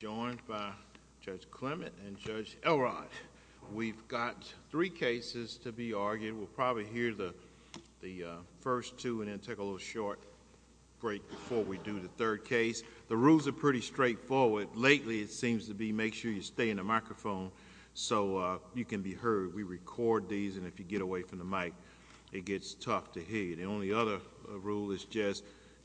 Joined by Judge Clement and Judge Elrod. We've got three cases to be argued. We'll probably hear the first two and then take a little short break before we do the third case. The rules are pretty straightforward. Lately, it seems to be make sure you stay in the microphone so you can be heard. We record these and if you get away from the mic, it gets tough to hear you. The only other rule is just,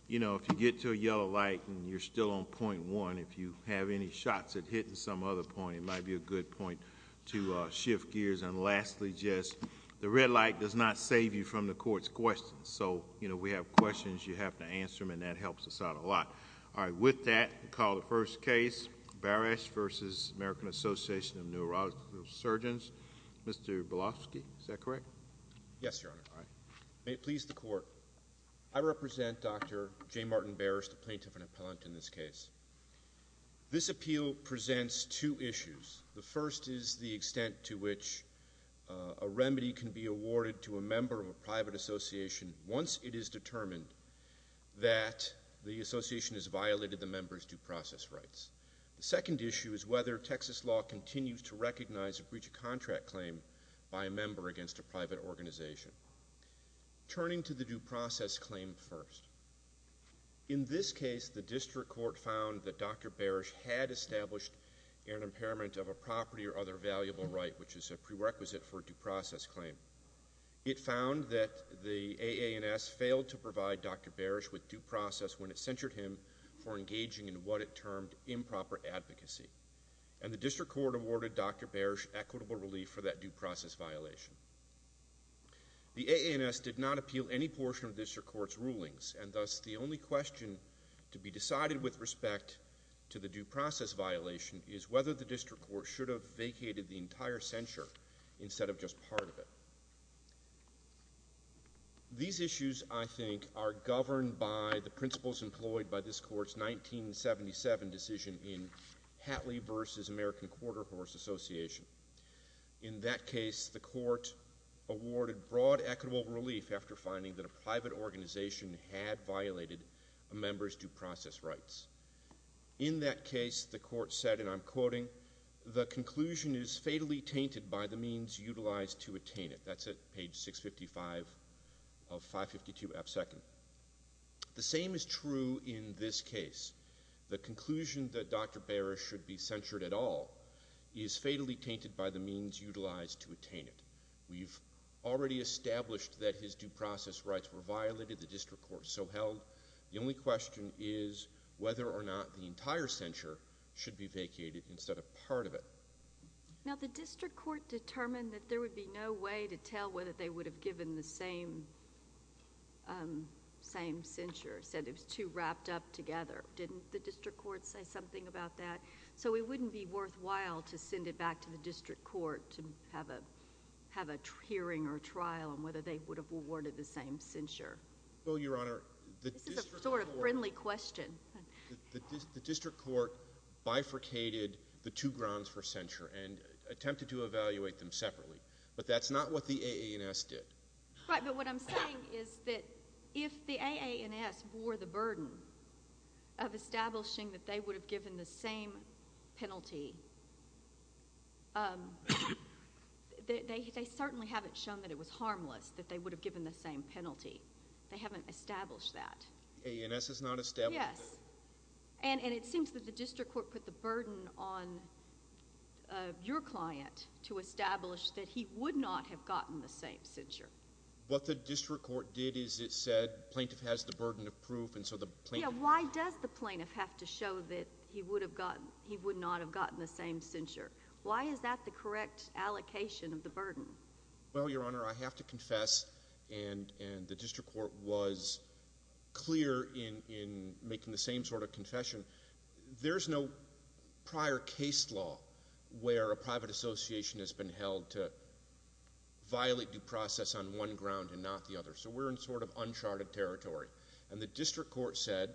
you know, if you get to a yellow light and you're still on point one, if you have any shots at hitting some other point, it might be a good point to shift gears. And lastly, just the red light does not save you from the court's questions. So, you know, we have questions, you have to answer them and that helps us out a lot. All right, with that, we'll call the first case. Barrash v. American Association of Neurological Surgeons. Mr. Bilofsky, is that correct? Yes, Your Honor. May it please the court. I represent Dr. J. Martin Barrash, the plaintiff and appellant in this case. This appeal presents two issues. The first is the extent to which a remedy can be awarded to a member of a private association once it is determined that the association has violated the member's due process rights. The second issue is whether Texas law continues to recognize a breach of contract claim by a member against a private organization. Turning to the due process claim first. In this case, the district court found that Dr. Barrash had established an impairment of a property or other valuable right, which is a prerequisite for a due process claim. It found that the AANS failed to provide Dr. Barrash with due process when it censured him for engaging in what it termed improper advocacy. And the district court awarded Dr. Barrash equitable relief for that due process violation. The AANS did not appeal any portion of the district court's rulings and thus the only question to be decided with respect to the due process violation is whether the district court should have vacated the entire censure instead of just part of it. These issues, I think, are governed by the principles employed by this court's 1977 decision in Hatley versus American Quarter Horse Association. In that case, the court awarded broad equitable relief after finding that a private organization had violated a member's due process rights. In that case, the court said, and I'm quoting, the conclusion is fatally tainted by the means utilized to attain it. That's at page 655 of 552 absecond. The same is true in this case. The conclusion that Dr. Barrash should be censured at all is fatally tainted by the means utilized to attain it. We've already established that his due process rights were violated, the district court so held. The only question is whether or not the entire censure should be vacated instead of part of it. Now the district court determined that there would be no way to tell whether they would have given the same censure, said it was too wrapped up together. Didn't the district court say something about that? So it wouldn't be worthwhile to send it back to the district court to have a hearing or trial on whether they would have awarded the same censure. Well, Your Honor, the district court. This is a sort of friendly question. The district court bifurcated the two grounds for censure and attempted to evaluate them separately, but that's not what the AANS did. Right, but what I'm saying is that if the AANS bore the burden of establishing that they would have given the same penalty, they certainly haven't shown that it was harmless, that they would have given the same penalty. They haven't established that. AANS has not established it? Yes, and it seems that the district court put the burden on your client to establish that he would not have gotten the same censure. What the district court did is it said plaintiff has the burden of proof, and so the plaintiff. Yeah, why does the plaintiff have to show that he would not have gotten the same censure? Why is that the correct allocation of the burden? Well, Your Honor, I have to confess, and the district court was clear in making the same sort of confession. There's no prior case law where a private association has been held to violate due process on one ground and not the other, so we're in sort of uncharted territory, and the district court said,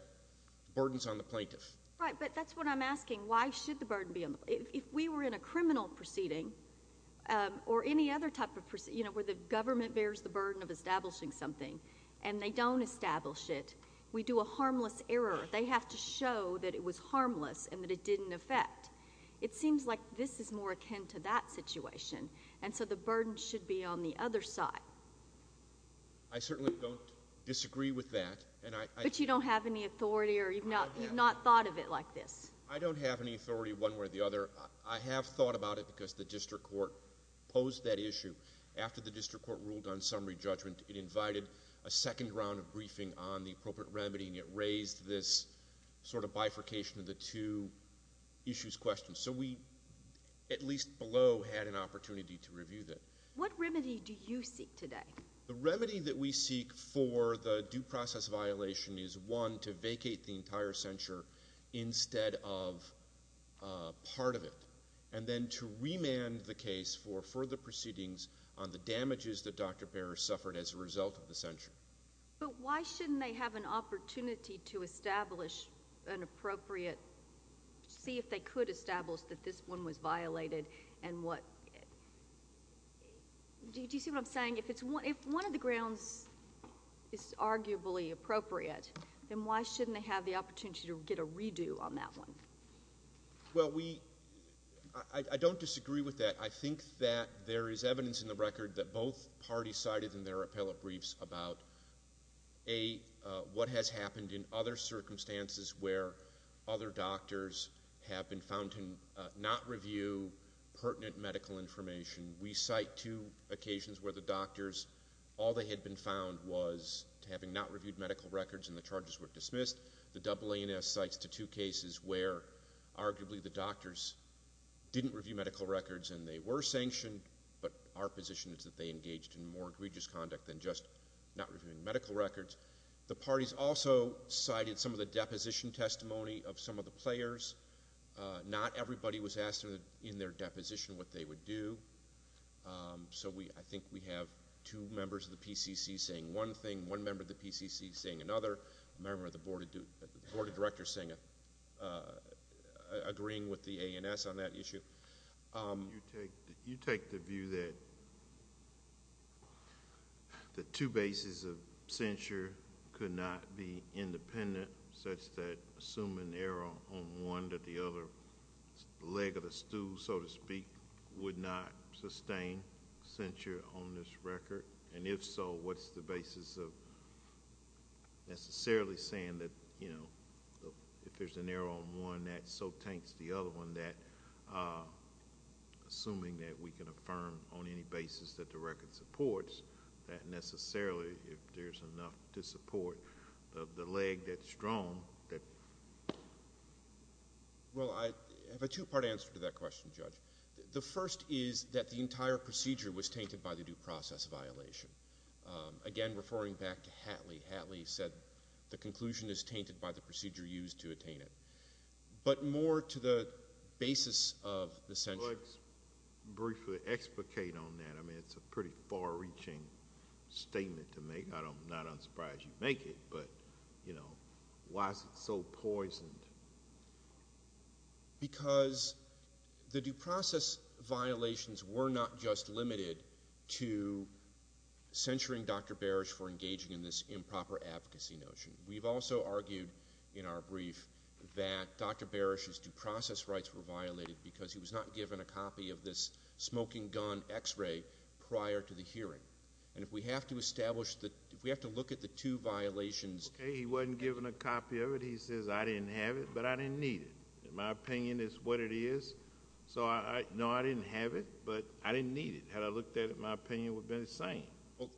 burden's on the plaintiff. Right, but that's what I'm asking. Why should the burden be on the, if we were in a criminal proceeding, or any other type of, you know, where the government bears the burden of establishing something, and they don't establish it, we do a harmless error. They have to show that it was harmless and that it didn't affect. It seems like this is more akin to that situation, and so the burden should be on the other side. I certainly don't disagree with that, and I. But you don't have any authority, or you've not thought of it like this? I don't have any authority one way or the other. I have thought about it, because the district court posed that issue. After the district court ruled on summary judgment, it invited a second round of briefing on the appropriate remedy, and it raised this sort of bifurcation of the two issues questioned. So we, at least below, had an opportunity to review that. What remedy do you seek today? The remedy that we seek for the due process violation is one, to vacate the entire censure instead of part of it, and then to remand the case for further proceedings on the damages that Dr. Behr suffered as a result of the censure. But why shouldn't they have an opportunity to establish an appropriate, see if they could establish that this one was violated, and what? Do you see what I'm saying? If one of the grounds is arguably appropriate, then why shouldn't they have the opportunity to get a redo on that one? Well, I don't disagree with that. I think that there is evidence in the record that both parties cited in their appellate briefs about what has happened in other circumstances where other doctors have been found to not review pertinent medical information. We cite two occasions where the doctors, all they had been found was to having not reviewed medical records and the charges were dismissed. The AANS cites to two cases where arguably the doctors didn't review medical records and they were sanctioned, but our position is that they engaged in more egregious conduct than just not reviewing medical records. The parties also cited some of the deposition testimony of some of the players. Not everybody was asked in their deposition what they would do. So I think we have two members of the PCC saying one thing, one member of the PCC saying another. A member of the board of directors saying agreeing with the AANS on that issue. You take the view that the two bases of censure could not be independent such that assuming there's an error on one that the other leg of the stool, so to speak, would not sustain censure on this record. And if so, what's the basis of necessarily saying that if there's an error on one that so taints the other one that assuming that we can affirm on any basis that the record supports that necessarily if there's enough to support of the leg that's drawn that... Well, I have a two-part answer to that question, Judge. The first is that the entire procedure was tainted by the due process violation. Again, referring back to Hatley. Hatley said the conclusion is tainted by the procedure used to attain it. But more to the basis of the censure. Well, let's briefly explicate on that. I mean, it's a pretty far-reaching statement to make. I'm not unsurprised you make it, but why is it so poisoned? Because the due process violations were not just limited to censuring Dr. Barish for engaging in this improper advocacy notion. We've also argued in our brief that Dr. Barish's due process rights were violated because he was not given a copy of this smoking gun X-ray prior to the hearing. And if we have to establish that, if we have to look at the two violations... Okay, he wasn't given a copy of it. He says, I didn't have it, but I didn't need it. In my opinion, it's what it is. So, no, I didn't have it, but I didn't need it. Had I looked at it, my opinion would have been the same. Well,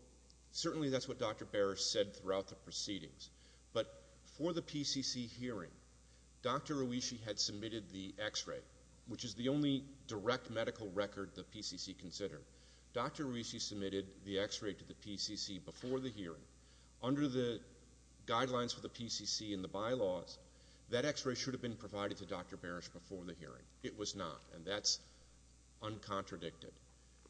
certainly that's what Dr. Barish said throughout the proceedings. But for the PCC hearing, Dr. Ruische had submitted the X-ray, which is the only direct medical record the PCC considered. Dr. Ruische submitted the X-ray to the PCC before the hearing. Under the guidelines for the PCC and the bylaws, that X-ray should have been provided to Dr. Barish before the hearing. It was not, and that's uncontradicted.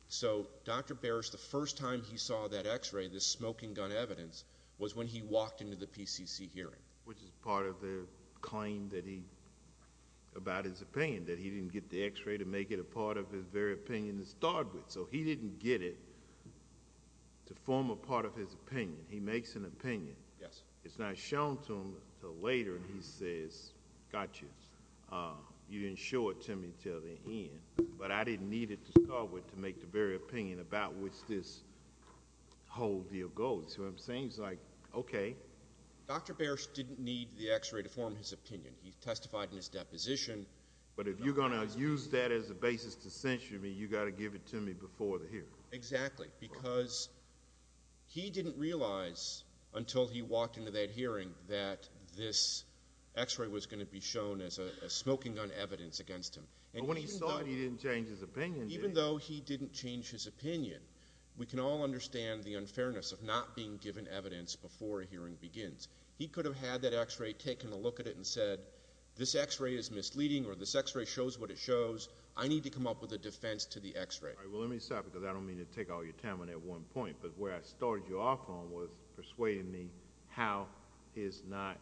So, Dr. Barish, the first time he saw that X-ray, this smoking gun evidence, was when he walked into the PCC hearing. Which is part of the claim about his opinion, that he didn't get the X-ray to make it a part of his very opinion to start with. So, he didn't get it to form a part of his opinion. He makes an opinion. Yes. It's not shown to him until later, and he says, gotcha. You didn't show it to me until the end. But I didn't need it to start with to make the very opinion about which this whole deal goes. So, it seems like, okay. Dr. Barish didn't need the X-ray to form his opinion. He testified in his deposition. But if you're gonna use that as a basis to censure me, you gotta give it to me before the hearing. Exactly, because he didn't realize, until he walked into that hearing, that this X-ray was gonna be shown as a smoking gun evidence against him. But when he saw it, he didn't change his opinion, did he? Even though he didn't change his opinion, we can all understand the unfairness of not being given evidence before a hearing begins. He could have had that X-ray, taken a look at it, and said, this X-ray is misleading, or this X-ray shows what it shows. I need to come up with a defense to the X-ray. All right, well, let me stop, because I don't mean to take all your time on that one point. But where I started you off on was persuading me how his not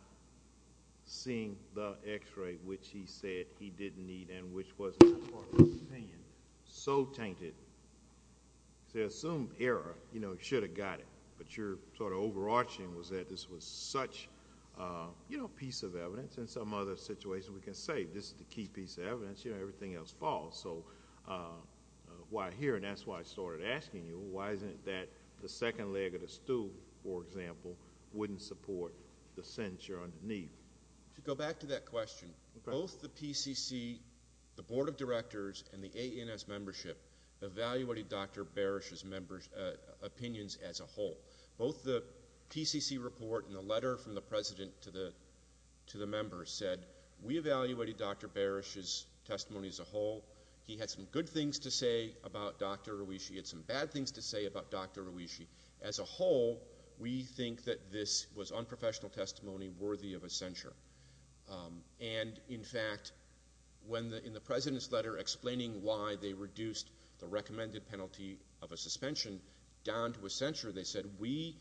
seeing the X-ray, which he said he didn't need, and which was not part of his opinion, so tainted. So, assume error, you know, he should have got it. But you're sort of overarching was that this was such, you know, a piece of evidence. In some other situations, we can say, this is the key piece of evidence. You know, everything else falls. So, why here, and that's why I started asking you, why isn't it that the second leg of the stool, for example, wouldn't support the center underneath? To go back to that question, both the PCC, the Board of Directors, and the ANS membership evaluated Dr. Barish's opinions as a whole. Both the PCC report and the letter from the President to the members said, we evaluated Dr. Barish's testimony as a whole. He had some good things to say about Dr. Ruische. He had some bad things to say about Dr. Ruische. As a whole, we think that this was unprofessional testimony worthy of a censure. And, in fact, in the President's letter explaining why they reduced the recommended penalty of a suspension down to a censure, they said, we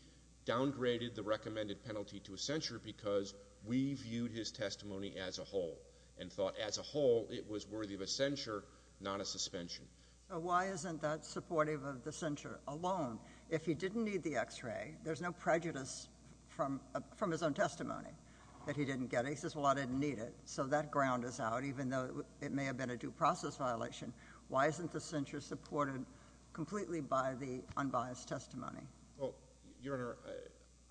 downgraded the recommended penalty to a censure because we viewed his testimony as a whole, and thought, as a whole, it was worthy of a censure, not a suspension. So why isn't that supportive of the censure alone? If he didn't need the X-ray, there's no prejudice from his own testimony that he didn't get it. He says, well, I didn't need it, so that ground us out, even though it may have been a due process violation. Why isn't the censure supported completely by the unbiased testimony? Well, Your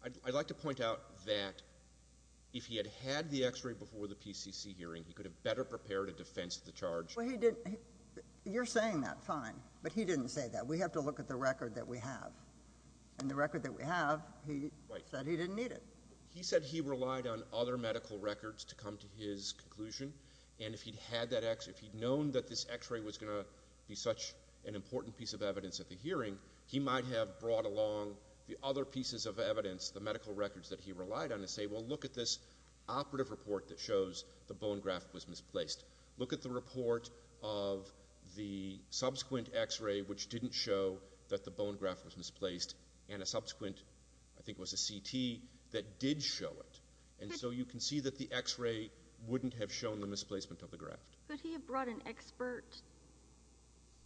Honor, I'd like to point out that if he had had the X-ray before the PCC hearing, he could have better prepared a defense of the charge. Well, he didn't, you're saying that, fine, but he didn't say that. We have to look at the record that we have. And the record that we have, he said he didn't need it. He said he relied on other medical records to come to his conclusion, and if he'd known that this X-ray was gonna be such an important piece of evidence at the hearing, he might have brought along the other pieces of evidence, the medical records that he relied on to say, well, look at this operative report that shows the bone graft was misplaced. Look at the report of the subsequent X-ray, which didn't show that the bone graft was misplaced, and a subsequent, I think it was a CT, that did show it. And so you can see that the X-ray wouldn't have shown the misplacement of the graft. Could he have brought an expert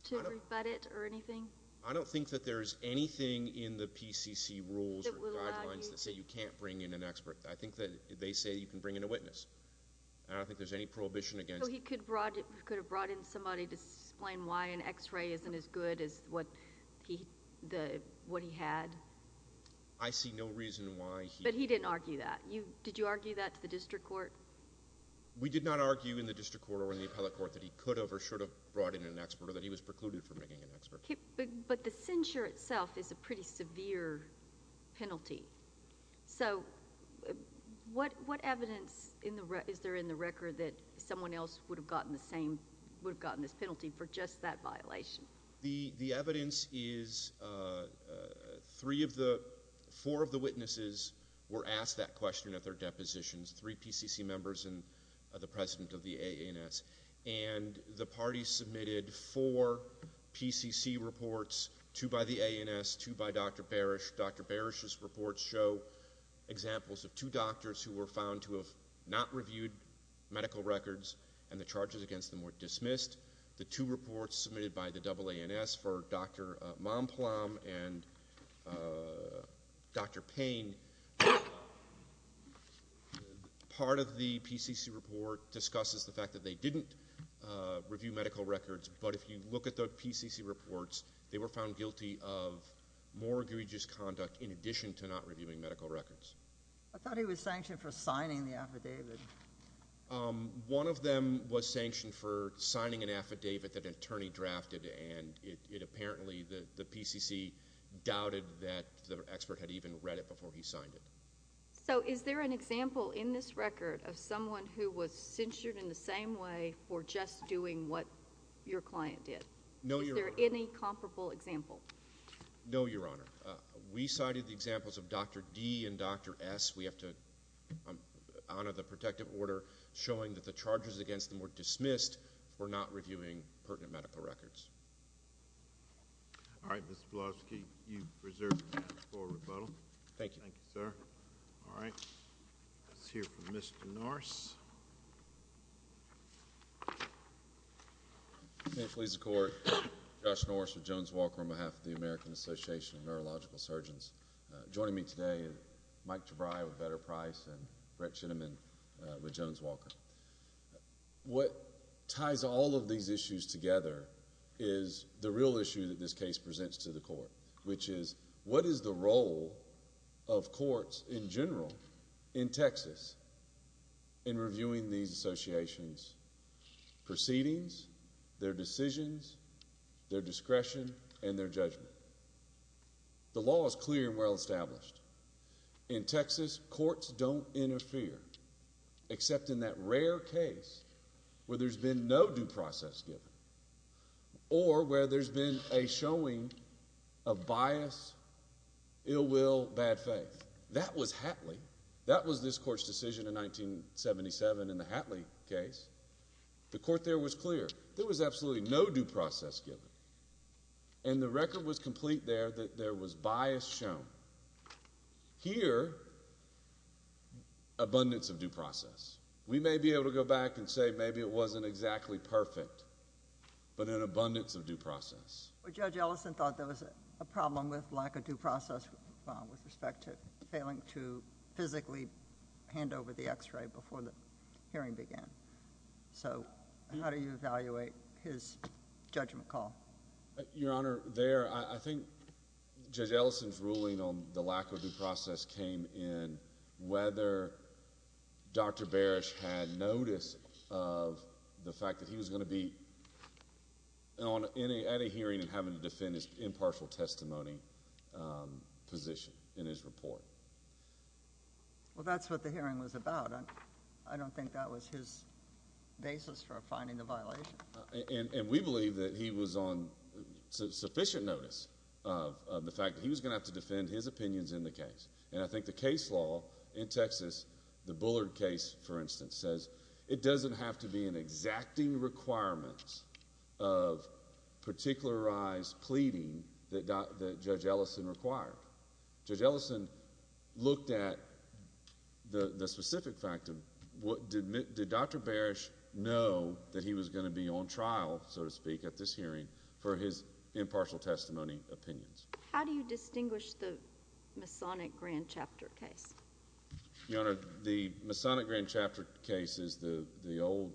to rebut it or anything? I don't think that there's anything in the PCC rules or guidelines that say you can't bring in an expert. I think that they say you can bring in a witness. I don't think there's any prohibition against. So he could have brought in somebody to explain why an X-ray isn't as good as what he had? I see no reason why he. But he didn't argue that. Did you argue that to the district court? We did not argue in the district court or in the appellate court that he could have or should have brought in an expert or that he was precluded from bringing an expert. But the censure itself is a pretty severe penalty. So what evidence is there in the record that someone else would have gotten the same, would have gotten this penalty for just that violation? The evidence is three of the, four of the witnesses were asked that question at their depositions, three PCC members and the president of the AANS. And the party submitted four PCC reports, two by the AANS, two by Dr. Barish. Dr. Barish's reports show examples of two doctors who were found to have not reviewed medical records and the charges against them were dismissed. The two reports submitted by the AANS for Dr. Momplam and Dr. Payne, part of the PCC report discusses the fact that they didn't review medical records, but if you look at the PCC reports, they were found guilty of more egregious conduct in addition to not reviewing medical records. I thought he was sanctioned for signing the affidavit. One of them was sanctioned for signing an affidavit that an attorney drafted and it apparently, the PCC doubted that the expert had even read it before he signed it. So is there an example in this record of someone who was censured in the same way for just doing what your client did? No, Your Honor. Is there any comparable example? No, Your Honor. We cited the examples of Dr. D and Dr. S. We have to honor the protective order showing that the charges against them were dismissed for not reviewing pertinent medical records. All right, Mr. Blavsky, you've reserved a chance for rebuttal. Thank you. Thank you, sir. All right, let's hear from Mr. Norse. May it please the Court, Josh Norse of Jones-Walker on behalf of the American Association of Neurological Surgeons. Joining me today is Mike Jabrai with Better Price and Brett Chinaman with Jones-Walker. What ties all of these issues together is the real issue that this case presents to the Court, which is what is the role of courts in general in Texas in reviewing these associations' proceedings, their decisions, their discretion, and their judgment? The law is clear and well-established. In Texas, courts don't interfere, except in that rare case where there's been no due process given, or where there's been a showing of bias, ill will, bad faith. That was Hatley. That was this Court's decision in 1977 in the Hatley case. The Court there was clear. There was absolutely no due process given. And the record was complete there that there was bias shown. Here, abundance of due process. We may be able to go back and say maybe it wasn't exactly perfect, but an abundance of due process. But Judge Ellison thought there was a problem with lack of due process with respect to failing to physically hand over the x-ray before the hearing began. So how do you evaluate his judgment call? Your Honor, there, I think Judge Ellison's ruling on the lack of due process came in whether Dr. Barish had notice of the fact that he was gonna be at a hearing and having to defend his impartial testimony position in his report. Well, that's what the hearing was about. I don't think that was his basis for finding the violation. And we believe that he was on sufficient notice of the fact that he was gonna have to defend his opinions in the case. And I think the case law in Texas, the Bullard case, for instance, says it doesn't have to be an exacting requirement of particularized pleading that Judge Ellison required. Judge Ellison looked at the specific fact of did Dr. Barish know that he was gonna be on trial, so to speak, at this hearing for his impartial testimony opinions? How do you distinguish the Masonic Grand Chapter case? Your Honor, the Masonic Grand Chapter case is the old,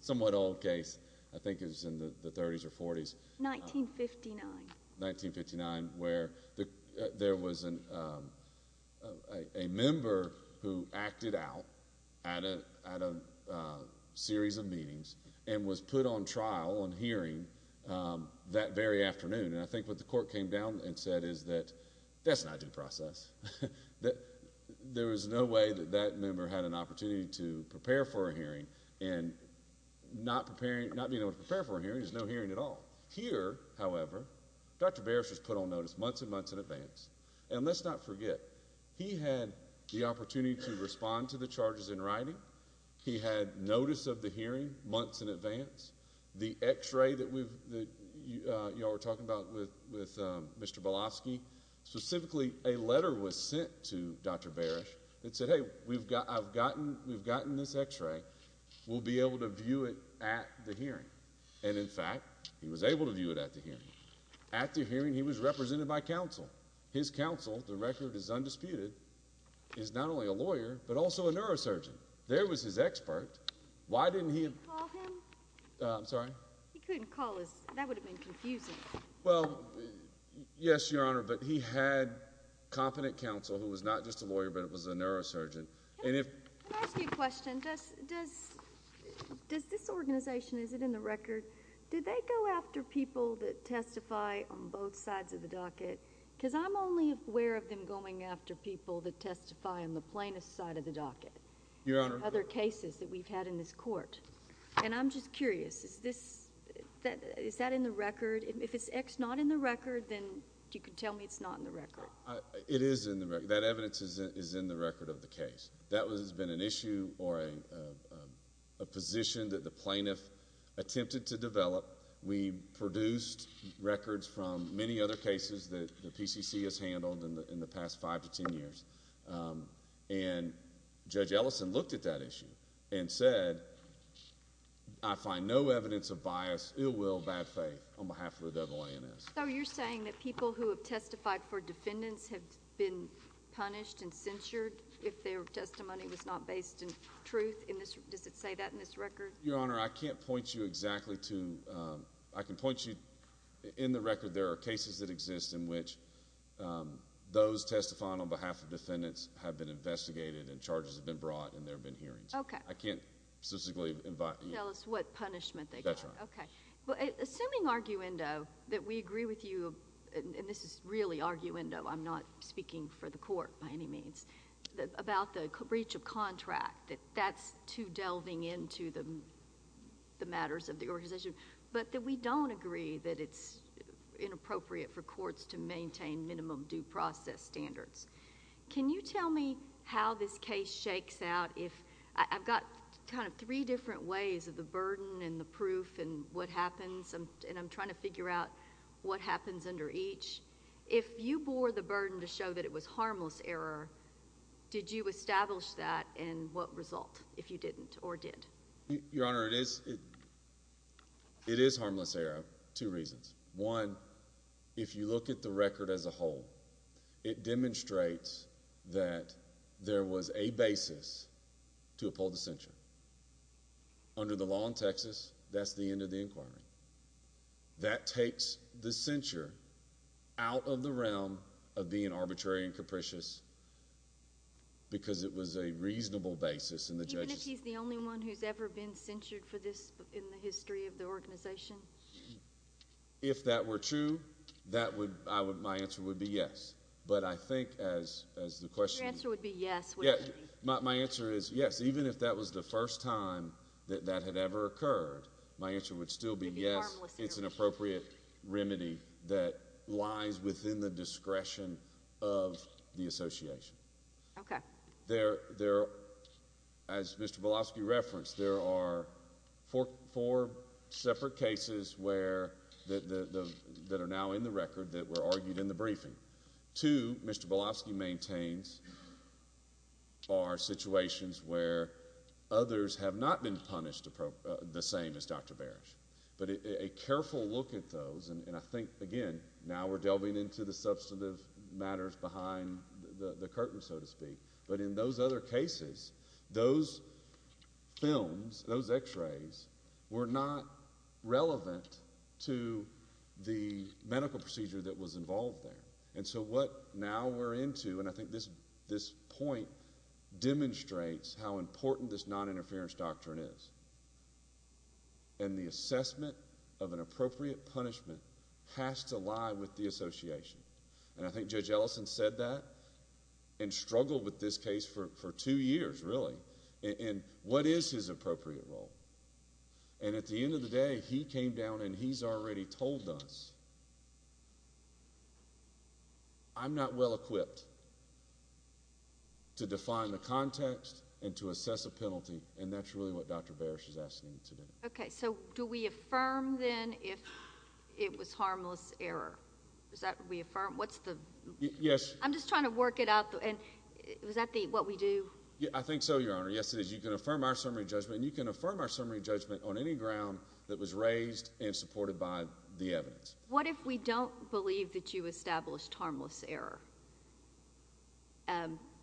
somewhat old case. I think it was in the 30s or 40s. 1959. 1959, where there was a member who acted out at a series of meetings and was put on trial on hearing that very afternoon. And I think what the court came down and said is that that's not due process. There was no way that that member had an opportunity to prepare for a hearing, and not being able to prepare for a hearing is no hearing at all. Here, however, Dr. Barish was put on notice months and months in advance. And let's not forget, he had the opportunity to respond to the charges in writing. He had notice of the hearing months in advance. The x-ray that y'all were talking about with Mr. Belofsky, specifically, a letter was sent to Dr. Barish that said, hey, we've gotten this x-ray. We'll be able to view it at the hearing. And in fact, he was able to view it at the hearing. At the hearing, he was represented by counsel. His counsel, the record is undisputed, is not only a lawyer, but also a neurosurgeon. There was his expert. Why didn't he? Call him? I'm sorry? He couldn't call us. That would have been confusing. Well, yes, Your Honor, but he had competent counsel who was not just a lawyer, but it was a neurosurgeon. And if- Can I ask you a question? Does this organization, is it in the record, did they go after people that testify on both sides of the docket? Because I'm only aware of them going after people that testify on the plaintiff's side of the docket. Your Honor- I'm not aware of any cases that we've had in this court. And I'm just curious, is this, is that in the record? If it's not in the record, then you can tell me it's not in the record. It is in the record. That evidence is in the record of the case. That has been an issue or a position that the plaintiff attempted to develop. We produced records from many other cases that the PCC has handled in the past five to 10 years. And Judge Ellison looked at that issue and said, I find no evidence of bias, ill will, bad faith on behalf of Redeville A&S. So you're saying that people who have testified for defendants have been punished and censured if their testimony was not based in truth in this, does it say that in this record? Your Honor, I can't point you exactly to, I can point you, in the record there are cases that exist in which those testifying on behalf of defendants have been investigated and charges have been brought and there have been hearings. Okay. I can't specifically invite you. Tell us what punishment they get. That's right. Okay, well, assuming, arguendo, that we agree with you, and this is really arguendo, I'm not speaking for the court by any means, about the breach of contract, that that's too delving into the matters of the organization but that we don't agree that it's inappropriate for courts to maintain minimum due process standards. Can you tell me how this case shakes out if, I've got kind of three different ways of the burden and the proof and what happens, and I'm trying to figure out what happens under each. If you bore the burden to show that it was harmless error, did you establish that and what result, if you didn't or did? Your Honor, it is, it is harmless error, two reasons. One, if you look at the record as a whole, it demonstrates that there was a basis to uphold the censure. Under the law in Texas, that's the end of the inquiry. That takes the censure out of the realm of being arbitrary and capricious because it was a reasonable basis and the judges. Even if he's the only one who's ever been censured for this in the history of the organization? If that were true, my answer would be yes. But I think as the question. Your answer would be yes, would it be? My answer is yes. Even if that was the first time that that had ever occurred, my answer would still be yes, it's an appropriate remedy that lies within the discretion of the association. Okay. As Mr. Bilofsky referenced, there are four separate cases where, that are now in the record, that were argued in the briefing. Two, Mr. Bilofsky maintains, are situations where others have not been punished the same as Dr. Barish. But a careful look at those, and I think, again, now we're delving into the substantive matters behind the curtain, so to speak. But in those other cases, those films, those x-rays, were not relevant to the medical procedure that was involved there. And so what now we're into, and I think this point demonstrates how important this non-interference doctrine is. And the assessment of an appropriate punishment has to lie with the association. And I think Judge Ellison said that, and struggled with this case for two years, really. And what is his appropriate role? And at the end of the day, he came down, and he's already told us, I'm not well-equipped to define the context and to assess a penalty, and that's really what Dr. Barish is asking today. Okay, so do we affirm, then, if it was harmless error? Is that, we affirm, what's the? Yes. I'm just trying to work it out, and is that what we do? I think so, Your Honor. Yes, it is. You can affirm our summary judgment, and you can affirm our summary judgment on any ground that was raised and supported by the evidence. What if we don't believe that you established harmless error?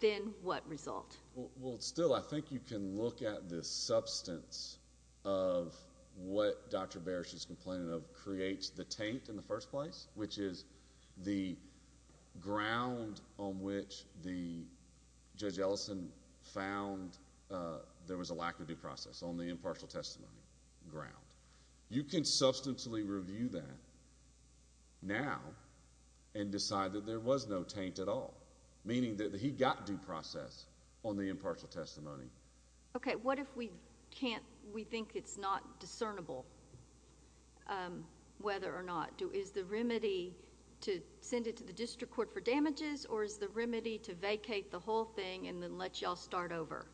Then what result? Well, still, I think you can look at the substance of what Dr. Barish is complaining of creates the taint in the first place, which is the ground on which the Judge Ellison found there was a lack of due process on the impartial testimony ground. You can substantially review that now and decide that there was no taint at all, meaning that he got due process on the impartial testimony. Okay, what if we think it's not discernible whether or not, is the remedy to send it to the district court for damages, or is the remedy to vacate the whole thing and then let y'all start over?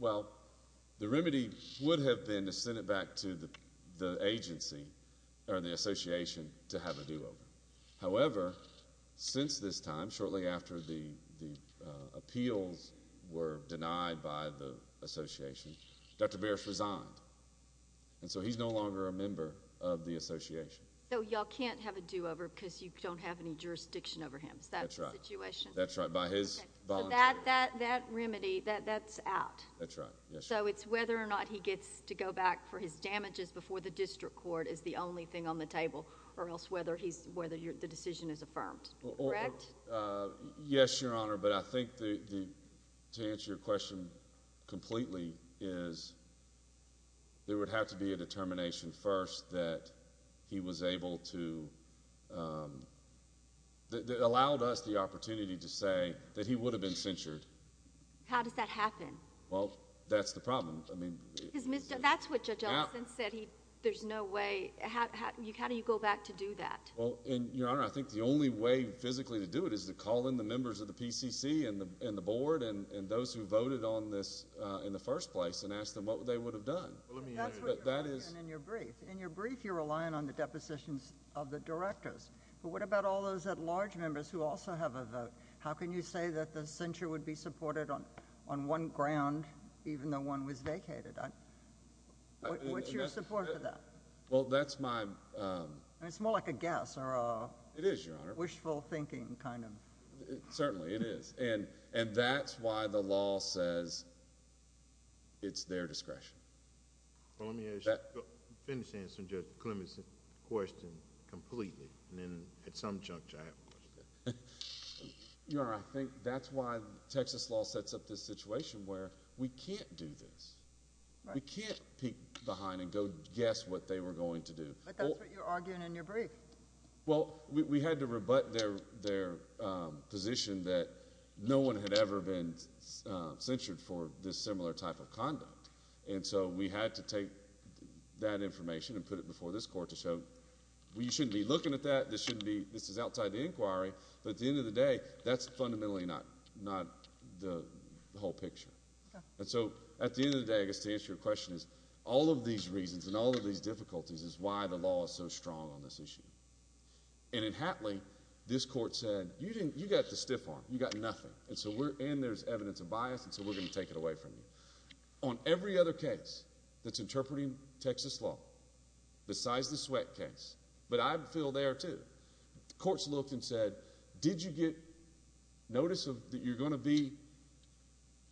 Well, the remedy would have been to send it back to the agency, or the association, to have a do-over. However, since this time, shortly after the appeals were denied by the association, Dr. Barish resigned, and so he's no longer a member of the association. So y'all can't have a do-over because you don't have any jurisdiction over him. Is that the situation? That's right, by his volunteer. That remedy, that's out. That's right, yes. So it's whether or not he gets to go back for his damages before the district court is the only thing on the table, or else whether the decision is affirmed, correct? Yes, Your Honor, but I think to answer your question completely is there would have to be a determination first that he was able to, that allowed us the opportunity to say that he would have been censured. How does that happen? Well, that's the problem, I mean. That's what Judge Ellison said. There's no way, how do you go back to do that? Well, and Your Honor, I think the only way physically to do it is to call in the members of the PCC and the board and those who voted on this in the first place, and ask them what they would have done. That's what you're doing in your brief. In your brief, you're relying on the depositions of the directors, but what about all those at-large members who also have a vote? How can you say that the censure would be supported on one ground, even though one was vacated? What's your support for that? Well, that's my. It's more like a guess or a wishful thinking kind of. Certainly, it is, and that's why the law says it's their discretion. Well, let me finish answering Judge Clement's question completely, and then at some juncture, I have a question. Your Honor, I think that's why Texas law sets up this situation where we can't do this. We can't peek behind and go guess what they were going to do. But that's what you're arguing in your brief. Well, we had to rebut their position that no one had ever been censured for this similar type of conduct, and so we had to take that information and put it before this court to show, we shouldn't be looking at that. This is outside the inquiry, but at the end of the day, that's fundamentally not the whole picture. And so, at the end of the day, I guess to answer your question is, all of these reasons and all of these difficulties is why the law is so strong on this issue. And in Hatley, this court said, you got the stiff arm, you got nothing, and there's evidence of bias, and so we're gonna take it away from you. On every other case that's interpreting Texas law, besides the Sweatt case, but I feel there too, courts looked and said, did you get notice of that you're gonna be,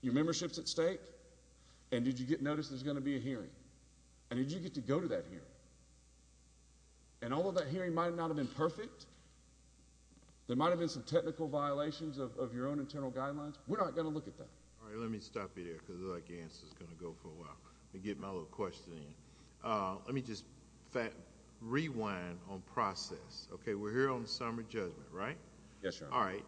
your membership's at stake? And did you get notice there's gonna be a hearing? And did you get to go to that hearing? And although that hearing might not have been perfect, there might have been some technical violations of your own internal guidelines, we're not gonna look at that. All right, let me stop you there, because I feel like the answer's gonna go for a while. Let me get my little question in. Let me just rewind on process. Okay, we're here on the summary judgment, right? Yes, sir. All right,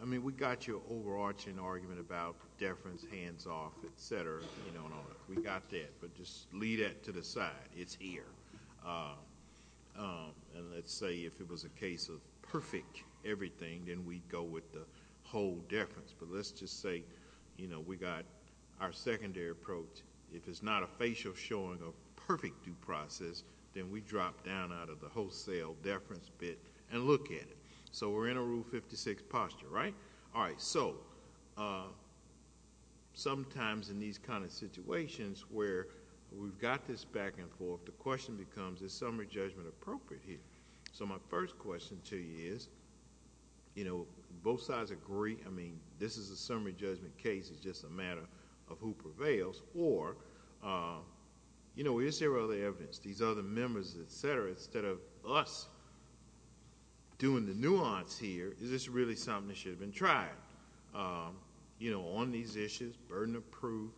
I mean, we got your overarching argument about deference, hands off, et cetera, you know, and all that, we got that, but just leave that to the side, it's here. And let's say if it was a case of perfect everything, then we'd go with the whole deference. But let's just say, you know, we got our secondary approach. If it's not a facial showing of perfect due process, then we drop down out of the wholesale deference bit and look at it. So we're in a rule 56 posture, right? All right, so sometimes in these kind of situations where we've got this back and forth, the question becomes is summary judgment appropriate here? So my first question to you is, you know, both sides agree. This is a summary judgment case, it's just a matter of who prevails. Or, you know, is there other evidence? These other members, et cetera, instead of us doing the nuance here, is this really something that should have been tried? You know, on these issues, burden of proof,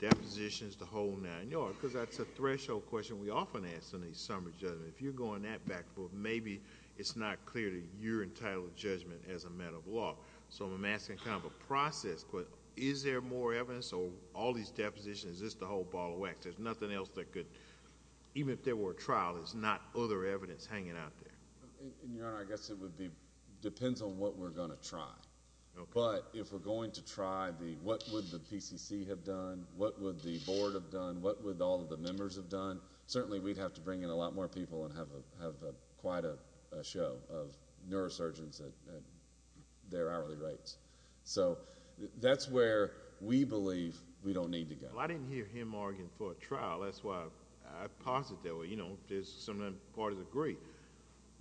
depositions, the whole nine yards, because that's a threshold question we often ask in a summary judgment. If you're going that back and forth, maybe it's not clear that you're entitled to judgment as a matter of law. So I'm asking kind of a process, but is there more evidence, or all these depositions, is this the whole ball of wax? There's nothing else that could, even if there were a trial, there's not other evidence hanging out there. And Your Honor, I guess it would be, depends on what we're gonna try. But if we're going to try the, what would the PCC have done? What would the board have done? What would all of the members have done? Certainly we'd have to bring in a lot more people and have quite a show of neurosurgeons at their hourly rates. So that's where we believe we don't need to go. I didn't hear him arguing for a trial. That's why I posit that, well, you know, some of the parties agree.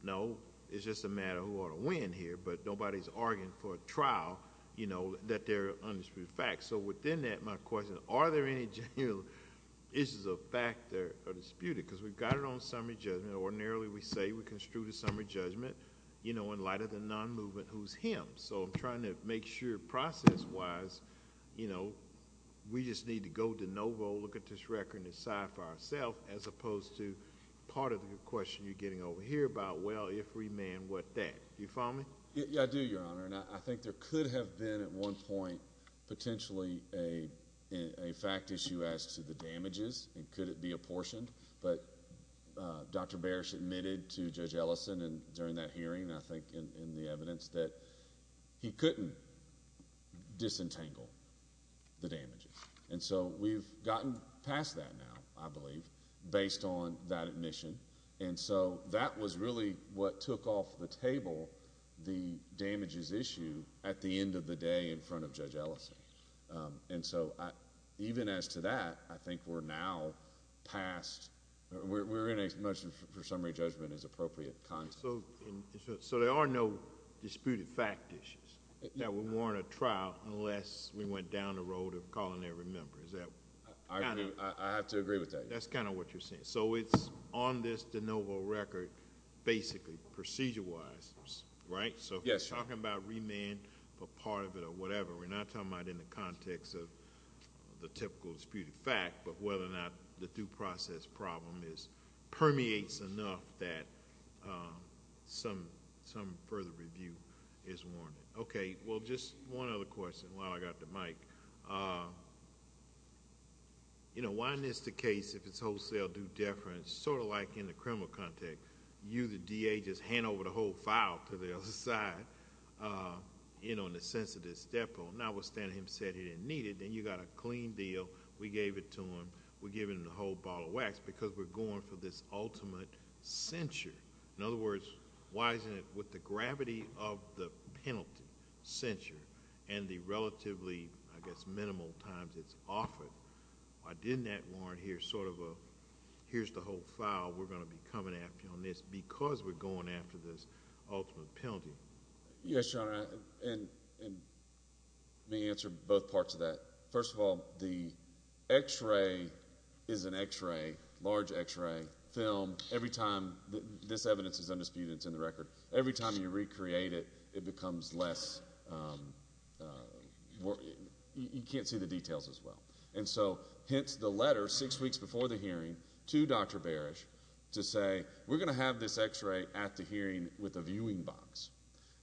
No, it's just a matter of who ought to win here, but nobody's arguing for a trial, you know, that there are undisputed facts. So within that, my question, are there any genuine issues of fact that are disputed? Because we've got it on summary judgment, ordinarily we say we construe the summary judgment, you know, in light of the non-movement who's him. So I'm trying to make sure process-wise, you know, we just need to go de novo, look at this record and decide for ourself, as opposed to part of the question you're getting over here about, well, if remand, what then? You follow me? Yeah, I do, Your Honor. And I think there could have been at one point potentially a fact issue as to the damages, and could it be apportioned? But Dr. Barish admitted to Judge Ellison, and during that hearing, I think in the evidence, that he couldn't disentangle the damages. And so we've gotten past that now, I believe, based on that admission. And so that was really what took off the table, the damages issue, at the end of the day in front of Judge Ellison. And so even as to that, I think we're now past, we're in as much for summary judgment as appropriate content. So there are no disputed fact issues that would warrant a trial, unless we went down the road of calling every member, is that kind of? I have to agree with that. That's kind of what you're saying. So it's on this de novo record, basically, procedure-wise, right? So if you're talking about remand, for part of it or whatever, we're not talking about it in the context of the typical disputed fact, but whether or not the due process problem permeates enough that some further review is warranted. Okay, well, just one other question while I got the mic. Why in this case, if it's wholesale due deference, sort of like in the criminal context, you, the DA, just hand over the whole file to the other side, in the sense of this depo, notwithstanding him said he didn't need it, then you got a clean deal, we gave it to him, we're giving him the whole bottle of wax because we're going for this ultimate censure. In other words, why isn't it, with the gravity of the penalty, censure, and the relatively, I guess, minimal times it's offered, why didn't that warrant, here's sort of a, here's the whole file, we're gonna be coming at you on this because we're going after this ultimate penalty? Yes, Your Honor, and let me answer both parts of that. First of all, the x-ray is an x-ray, large x-ray, film, every time, this evidence is undisputed, it's in the record, every time you recreate it, it becomes less, you can't see the details as well. And so, hence the letter six weeks before the hearing to Dr. Barish to say, we're gonna have this x-ray at the hearing with a viewing box.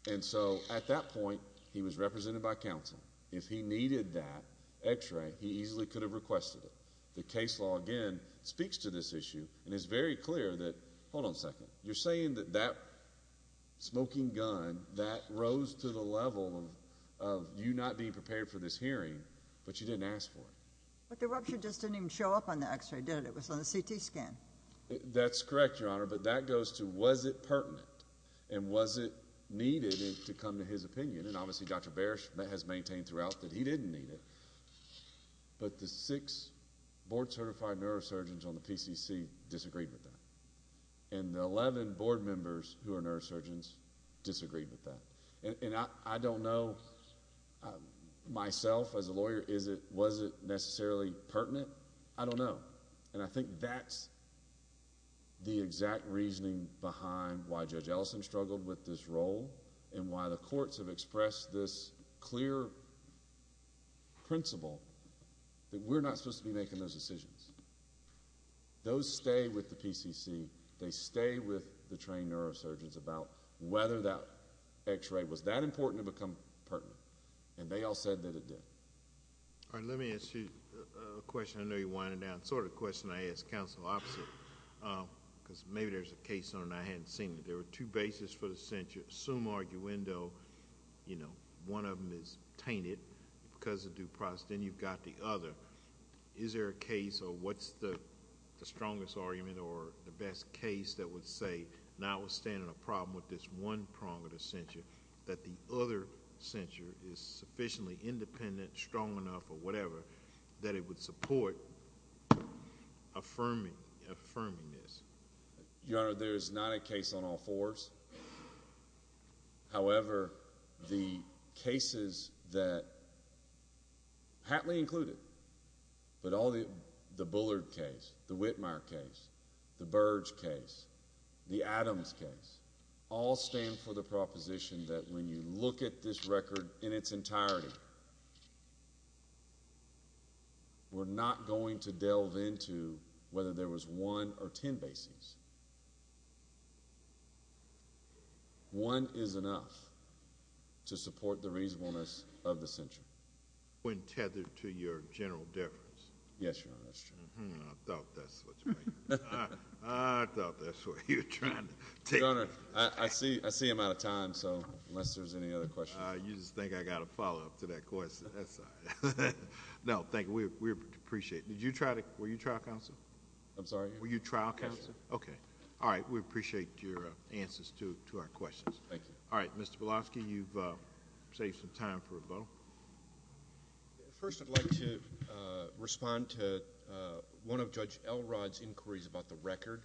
And so, at that point, he was represented by counsel. If he needed that x-ray, he easily could have requested it. The case law, again, speaks to this issue, and it's very clear that, hold on a second, you're saying that that smoking gun, that rose to the level of you not being prepared for this hearing, but you didn't ask for it? But the rupture just didn't even show up on the x-ray, did it, it was on the CT scan? That's correct, Your Honor, but that goes to, was it pertinent? And was it needed to come to his opinion? And obviously, Dr. Barish has maintained throughout that he didn't need it. But the six board-certified neurosurgeons on the PCC disagreed with that. And the 11 board members who are neurosurgeons disagreed with that. And I don't know, myself as a lawyer, was it necessarily pertinent? I don't know. And I think that's the exact reasoning behind why Judge Ellison struggled with this role and why the courts have expressed this clear principle that we're not supposed to be making those decisions. Those stay with the PCC. They stay with the trained neurosurgeons about whether that x-ray was that important to become pertinent. And they all said that it did. All right, let me ask you a question. I know you're winding down. It's sort of a question I ask counsel opposite, because maybe there's a case on it and I hadn't seen it. There were two bases for the censure. Assume arguendo, you know, one of them is tainted because of due process, then you've got the other. Is there a case, or what's the strongest argument or the best case that would say, now we're standing a problem with this one prong of the censure, that the other censure is sufficiently independent, strong enough, or whatever, that it would support affirming this? Your Honor, there is not a case on all fours. However, the cases that, Hatley included, but all the Bullard case, the Whitmire case, the Burge case, the Adams case, all stand for the proposition that when you look at this record in its entirety, we're not going to delve into whether there was one or 10 bases. One is enough to support the reasonableness of the censure. When tethered to your general difference. Yes, Your Honor, that's true. Mm-hmm, I thought that's what you were, I thought that's what you were trying to take. Your Honor, I see I'm out of time, so unless there's any other questions. You just think I gotta follow up to that question, that's all right. No, thank you, we appreciate it. Did you try to, were you trying to counsel? I'm sorry? Were you trial counsel? Yes, sir. Okay, all right, we appreciate your answers to our questions. Thank you. All right, Mr. Belofsky, you've saved some time for a vote. First, I'd like to respond to one of Judge Elrod's inquiries about the record,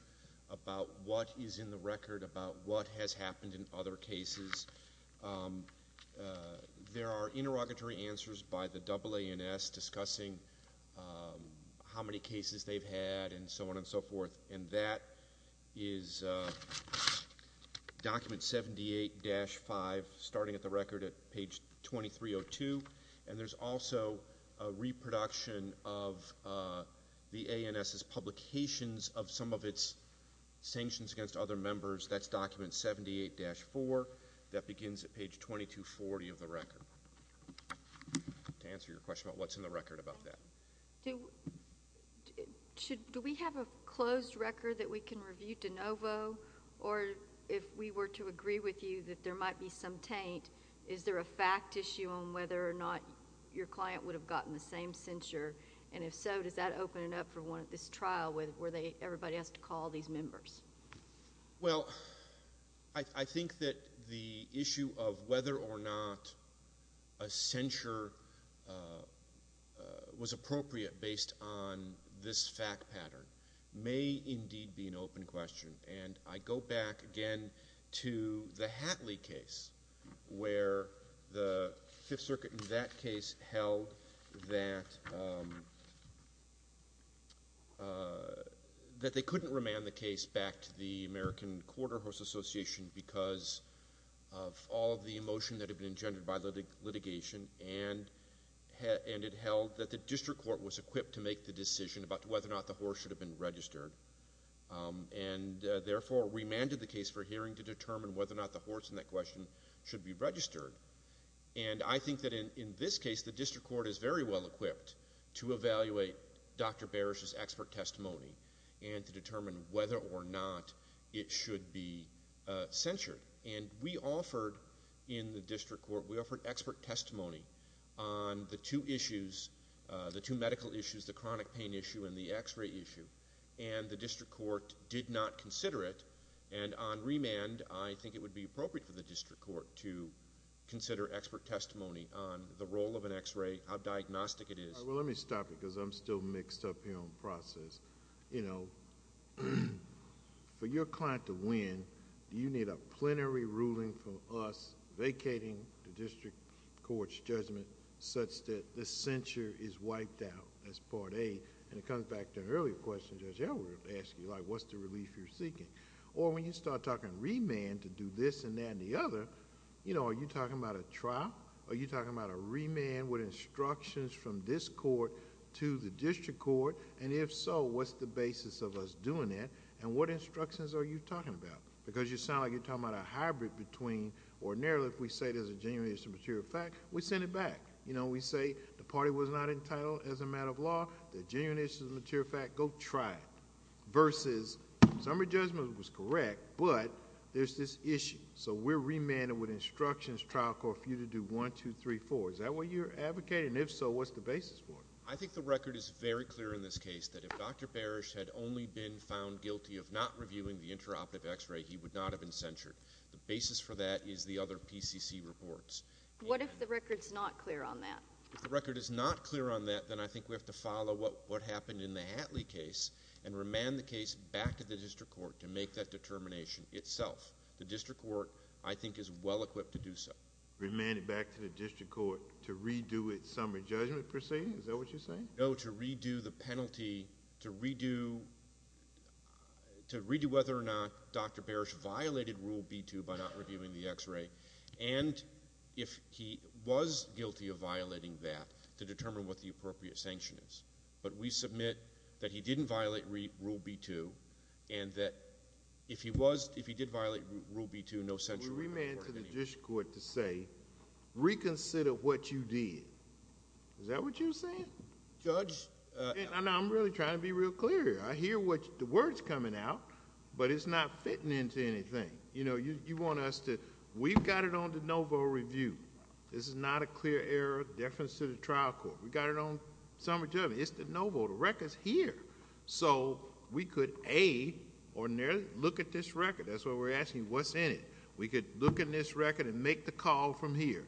about what is in the record, about what has happened in other cases. There are interrogatory answers by the AANS discussing how many cases they've had, and so on and so forth, and that is document 78-5, starting at the record at page 2302, and there's also a reproduction of the ANS's publications of some of its sanctions against other members, that's document 78-4, that begins at page 2240 of the record to answer your question about what's in the record about that. Do we have a closed record that we can review de novo, or if we were to agree with you that there might be some taint, is there a fact issue on whether or not your client would have gotten the same censure, and if so, does that open it up for this trial, where everybody has to call these members? Well, I think that the issue of whether or not a censure was appropriate based on this fact pattern may indeed be an open question, and I go back again to the Hatley case, where the Fifth Circuit in that case held that that they couldn't remand the case back to the American Quarter Horse Association because of all the emotion that had been engendered by litigation, and it held that the district court was equipped to make the decision about whether or not the horse should have been registered, and therefore remanded the case for hearing to determine whether or not the horse in that question should be registered, and I think that in this case, the district court is very well equipped to evaluate Dr. Barish's expert testimony and to determine whether or not it should be censured, and we offered in the district court, we offered expert testimony on the two issues, the two medical issues, the chronic pain issue and the x-ray issue, and the district court did not consider it, and on remand, I think it would be appropriate for the district court to consider expert testimony on the role of an x-ray, how diagnostic it is. Well, let me stop you, because I'm still mixed up here on process. For your client to win, do you need a plenary ruling from us vacating the district court's judgment such that the censure is wiped out as part A, and it comes back to an earlier question Judge Elwood asked you, like what's the relief you're seeking? Or when you start talking remand to do this and that and the other, you know, are you talking about a trial? Are you talking about a remand with instructions from this court to the district court, and if so, what's the basis of us doing that, and what instructions are you talking about? Because you sound like you're talking about a hybrid between ordinarily if we say there's a genuine issue of material fact, we send it back. You know, we say the party was not entitled as a matter of law, the genuine issue is a material fact, go try it, versus summary judgment was correct, but there's this issue, so we're remanded with instructions, trial court for you to do one, two, three, four. Is that what you're advocating? If so, what's the basis for it? I think the record is very clear in this case that if Dr. Barish had only been found guilty of not reviewing the intraoperative x-ray, he would not have been censured. The basis for that is the other PCC reports. What if the record's not clear on that? If the record is not clear on that, then I think we have to follow what happened in the Hatley case, and remand the case back to the district court to make that determination itself. The district court, I think, is well-equipped to do so. Remand it back to the district court to redo its summary judgment proceeding? Is that what you're saying? No, to redo the penalty, to redo whether or not Dr. Barish violated rule B two by not reviewing the x-ray, and if he was guilty of violating that, to determine what the appropriate sanction is. But we submit that he didn't violate rule B two, and that if he did violate rule B two, no censure would be afforded. We remand to the district court to say, reconsider what you did. Is that what you're saying? Judge? No, I'm really trying to be real clear. I hear what the word's coming out, but it's not fitting into anything. You want us to, we've got it on the no-vote review. This is not a clear error, deference to the trial court. We got it on summary judgment. It's the no-vote. The record's here. So we could, A, ordinarily look at this record. That's why we're asking, what's in it? We could look in this record and make the call from here,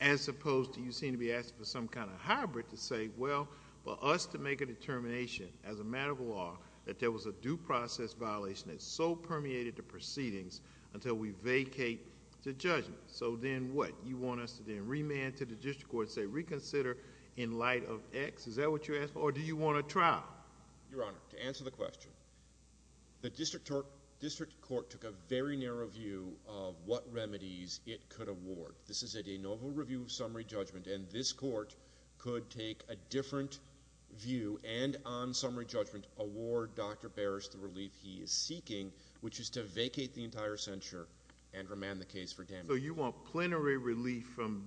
as opposed to you seem to be asking for some kind of hybrid to say, well, for us to make a determination, as a matter of law, that there was a due process violation that so permeated the proceedings until we vacate the judgment. So then what? You want us to then remand to the district court, say, reconsider in light of X? Is that what you're asking, or do you want a trial? Your Honor, to answer the question, the district court took a very narrow view of what remedies it could award. This is a de novo review of summary judgment, and this court could take a different view, and on summary judgment, award Dr. Barris the relief he is seeking, which is to vacate the entire censure and remand the case for damages. So you want plenary relief from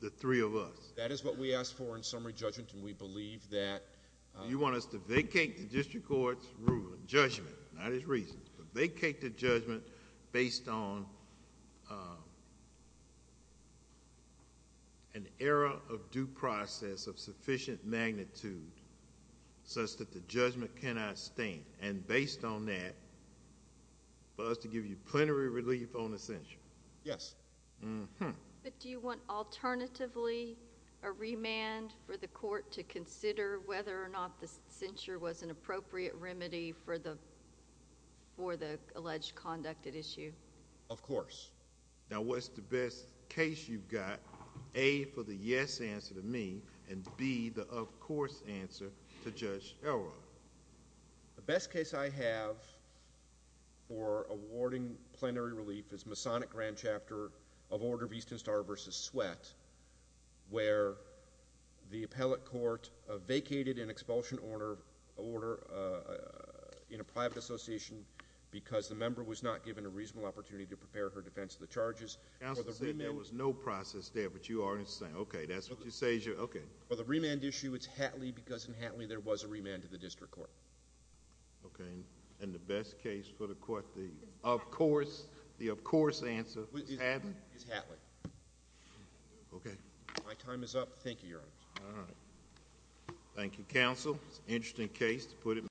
the three of us? That is what we asked for in summary judgment, and we believe that. You want us to vacate the district court's ruling, judgment, not its reasons, but vacate the judgment based on an error of due process of sufficient magnitude such that the judgment cannot stand, and based on that, for us to give you plenary relief on the censure? Yes. But do you want alternatively a remand for the court to consider whether or not the censure was an appropriate remedy for the alleged conduct at issue? Of course. Now what's the best case you've got, A, for the yes answer to me, and B, the of course answer to Judge Elrod? The best case I have for awarding plenary relief is Masonic Grand Chapter of Order of Eastern Star versus Sweatt, where the appellate court vacated an expulsion order in a private association because the member was not given a reasonable opportunity to prepare her defense of the charges. Counsel said there was no process there, but you are saying, okay, that's what you say, okay. For the remand issue, it's Hatley, because in Hatley, there was a remand to the district court. Okay, and the best case for the court, the of course, the of course answer, is Hatley? It's Hatley. Okay. My time is up, thank you, Your Honor. All right. Thank you, counsel. It's an interesting case, to put it.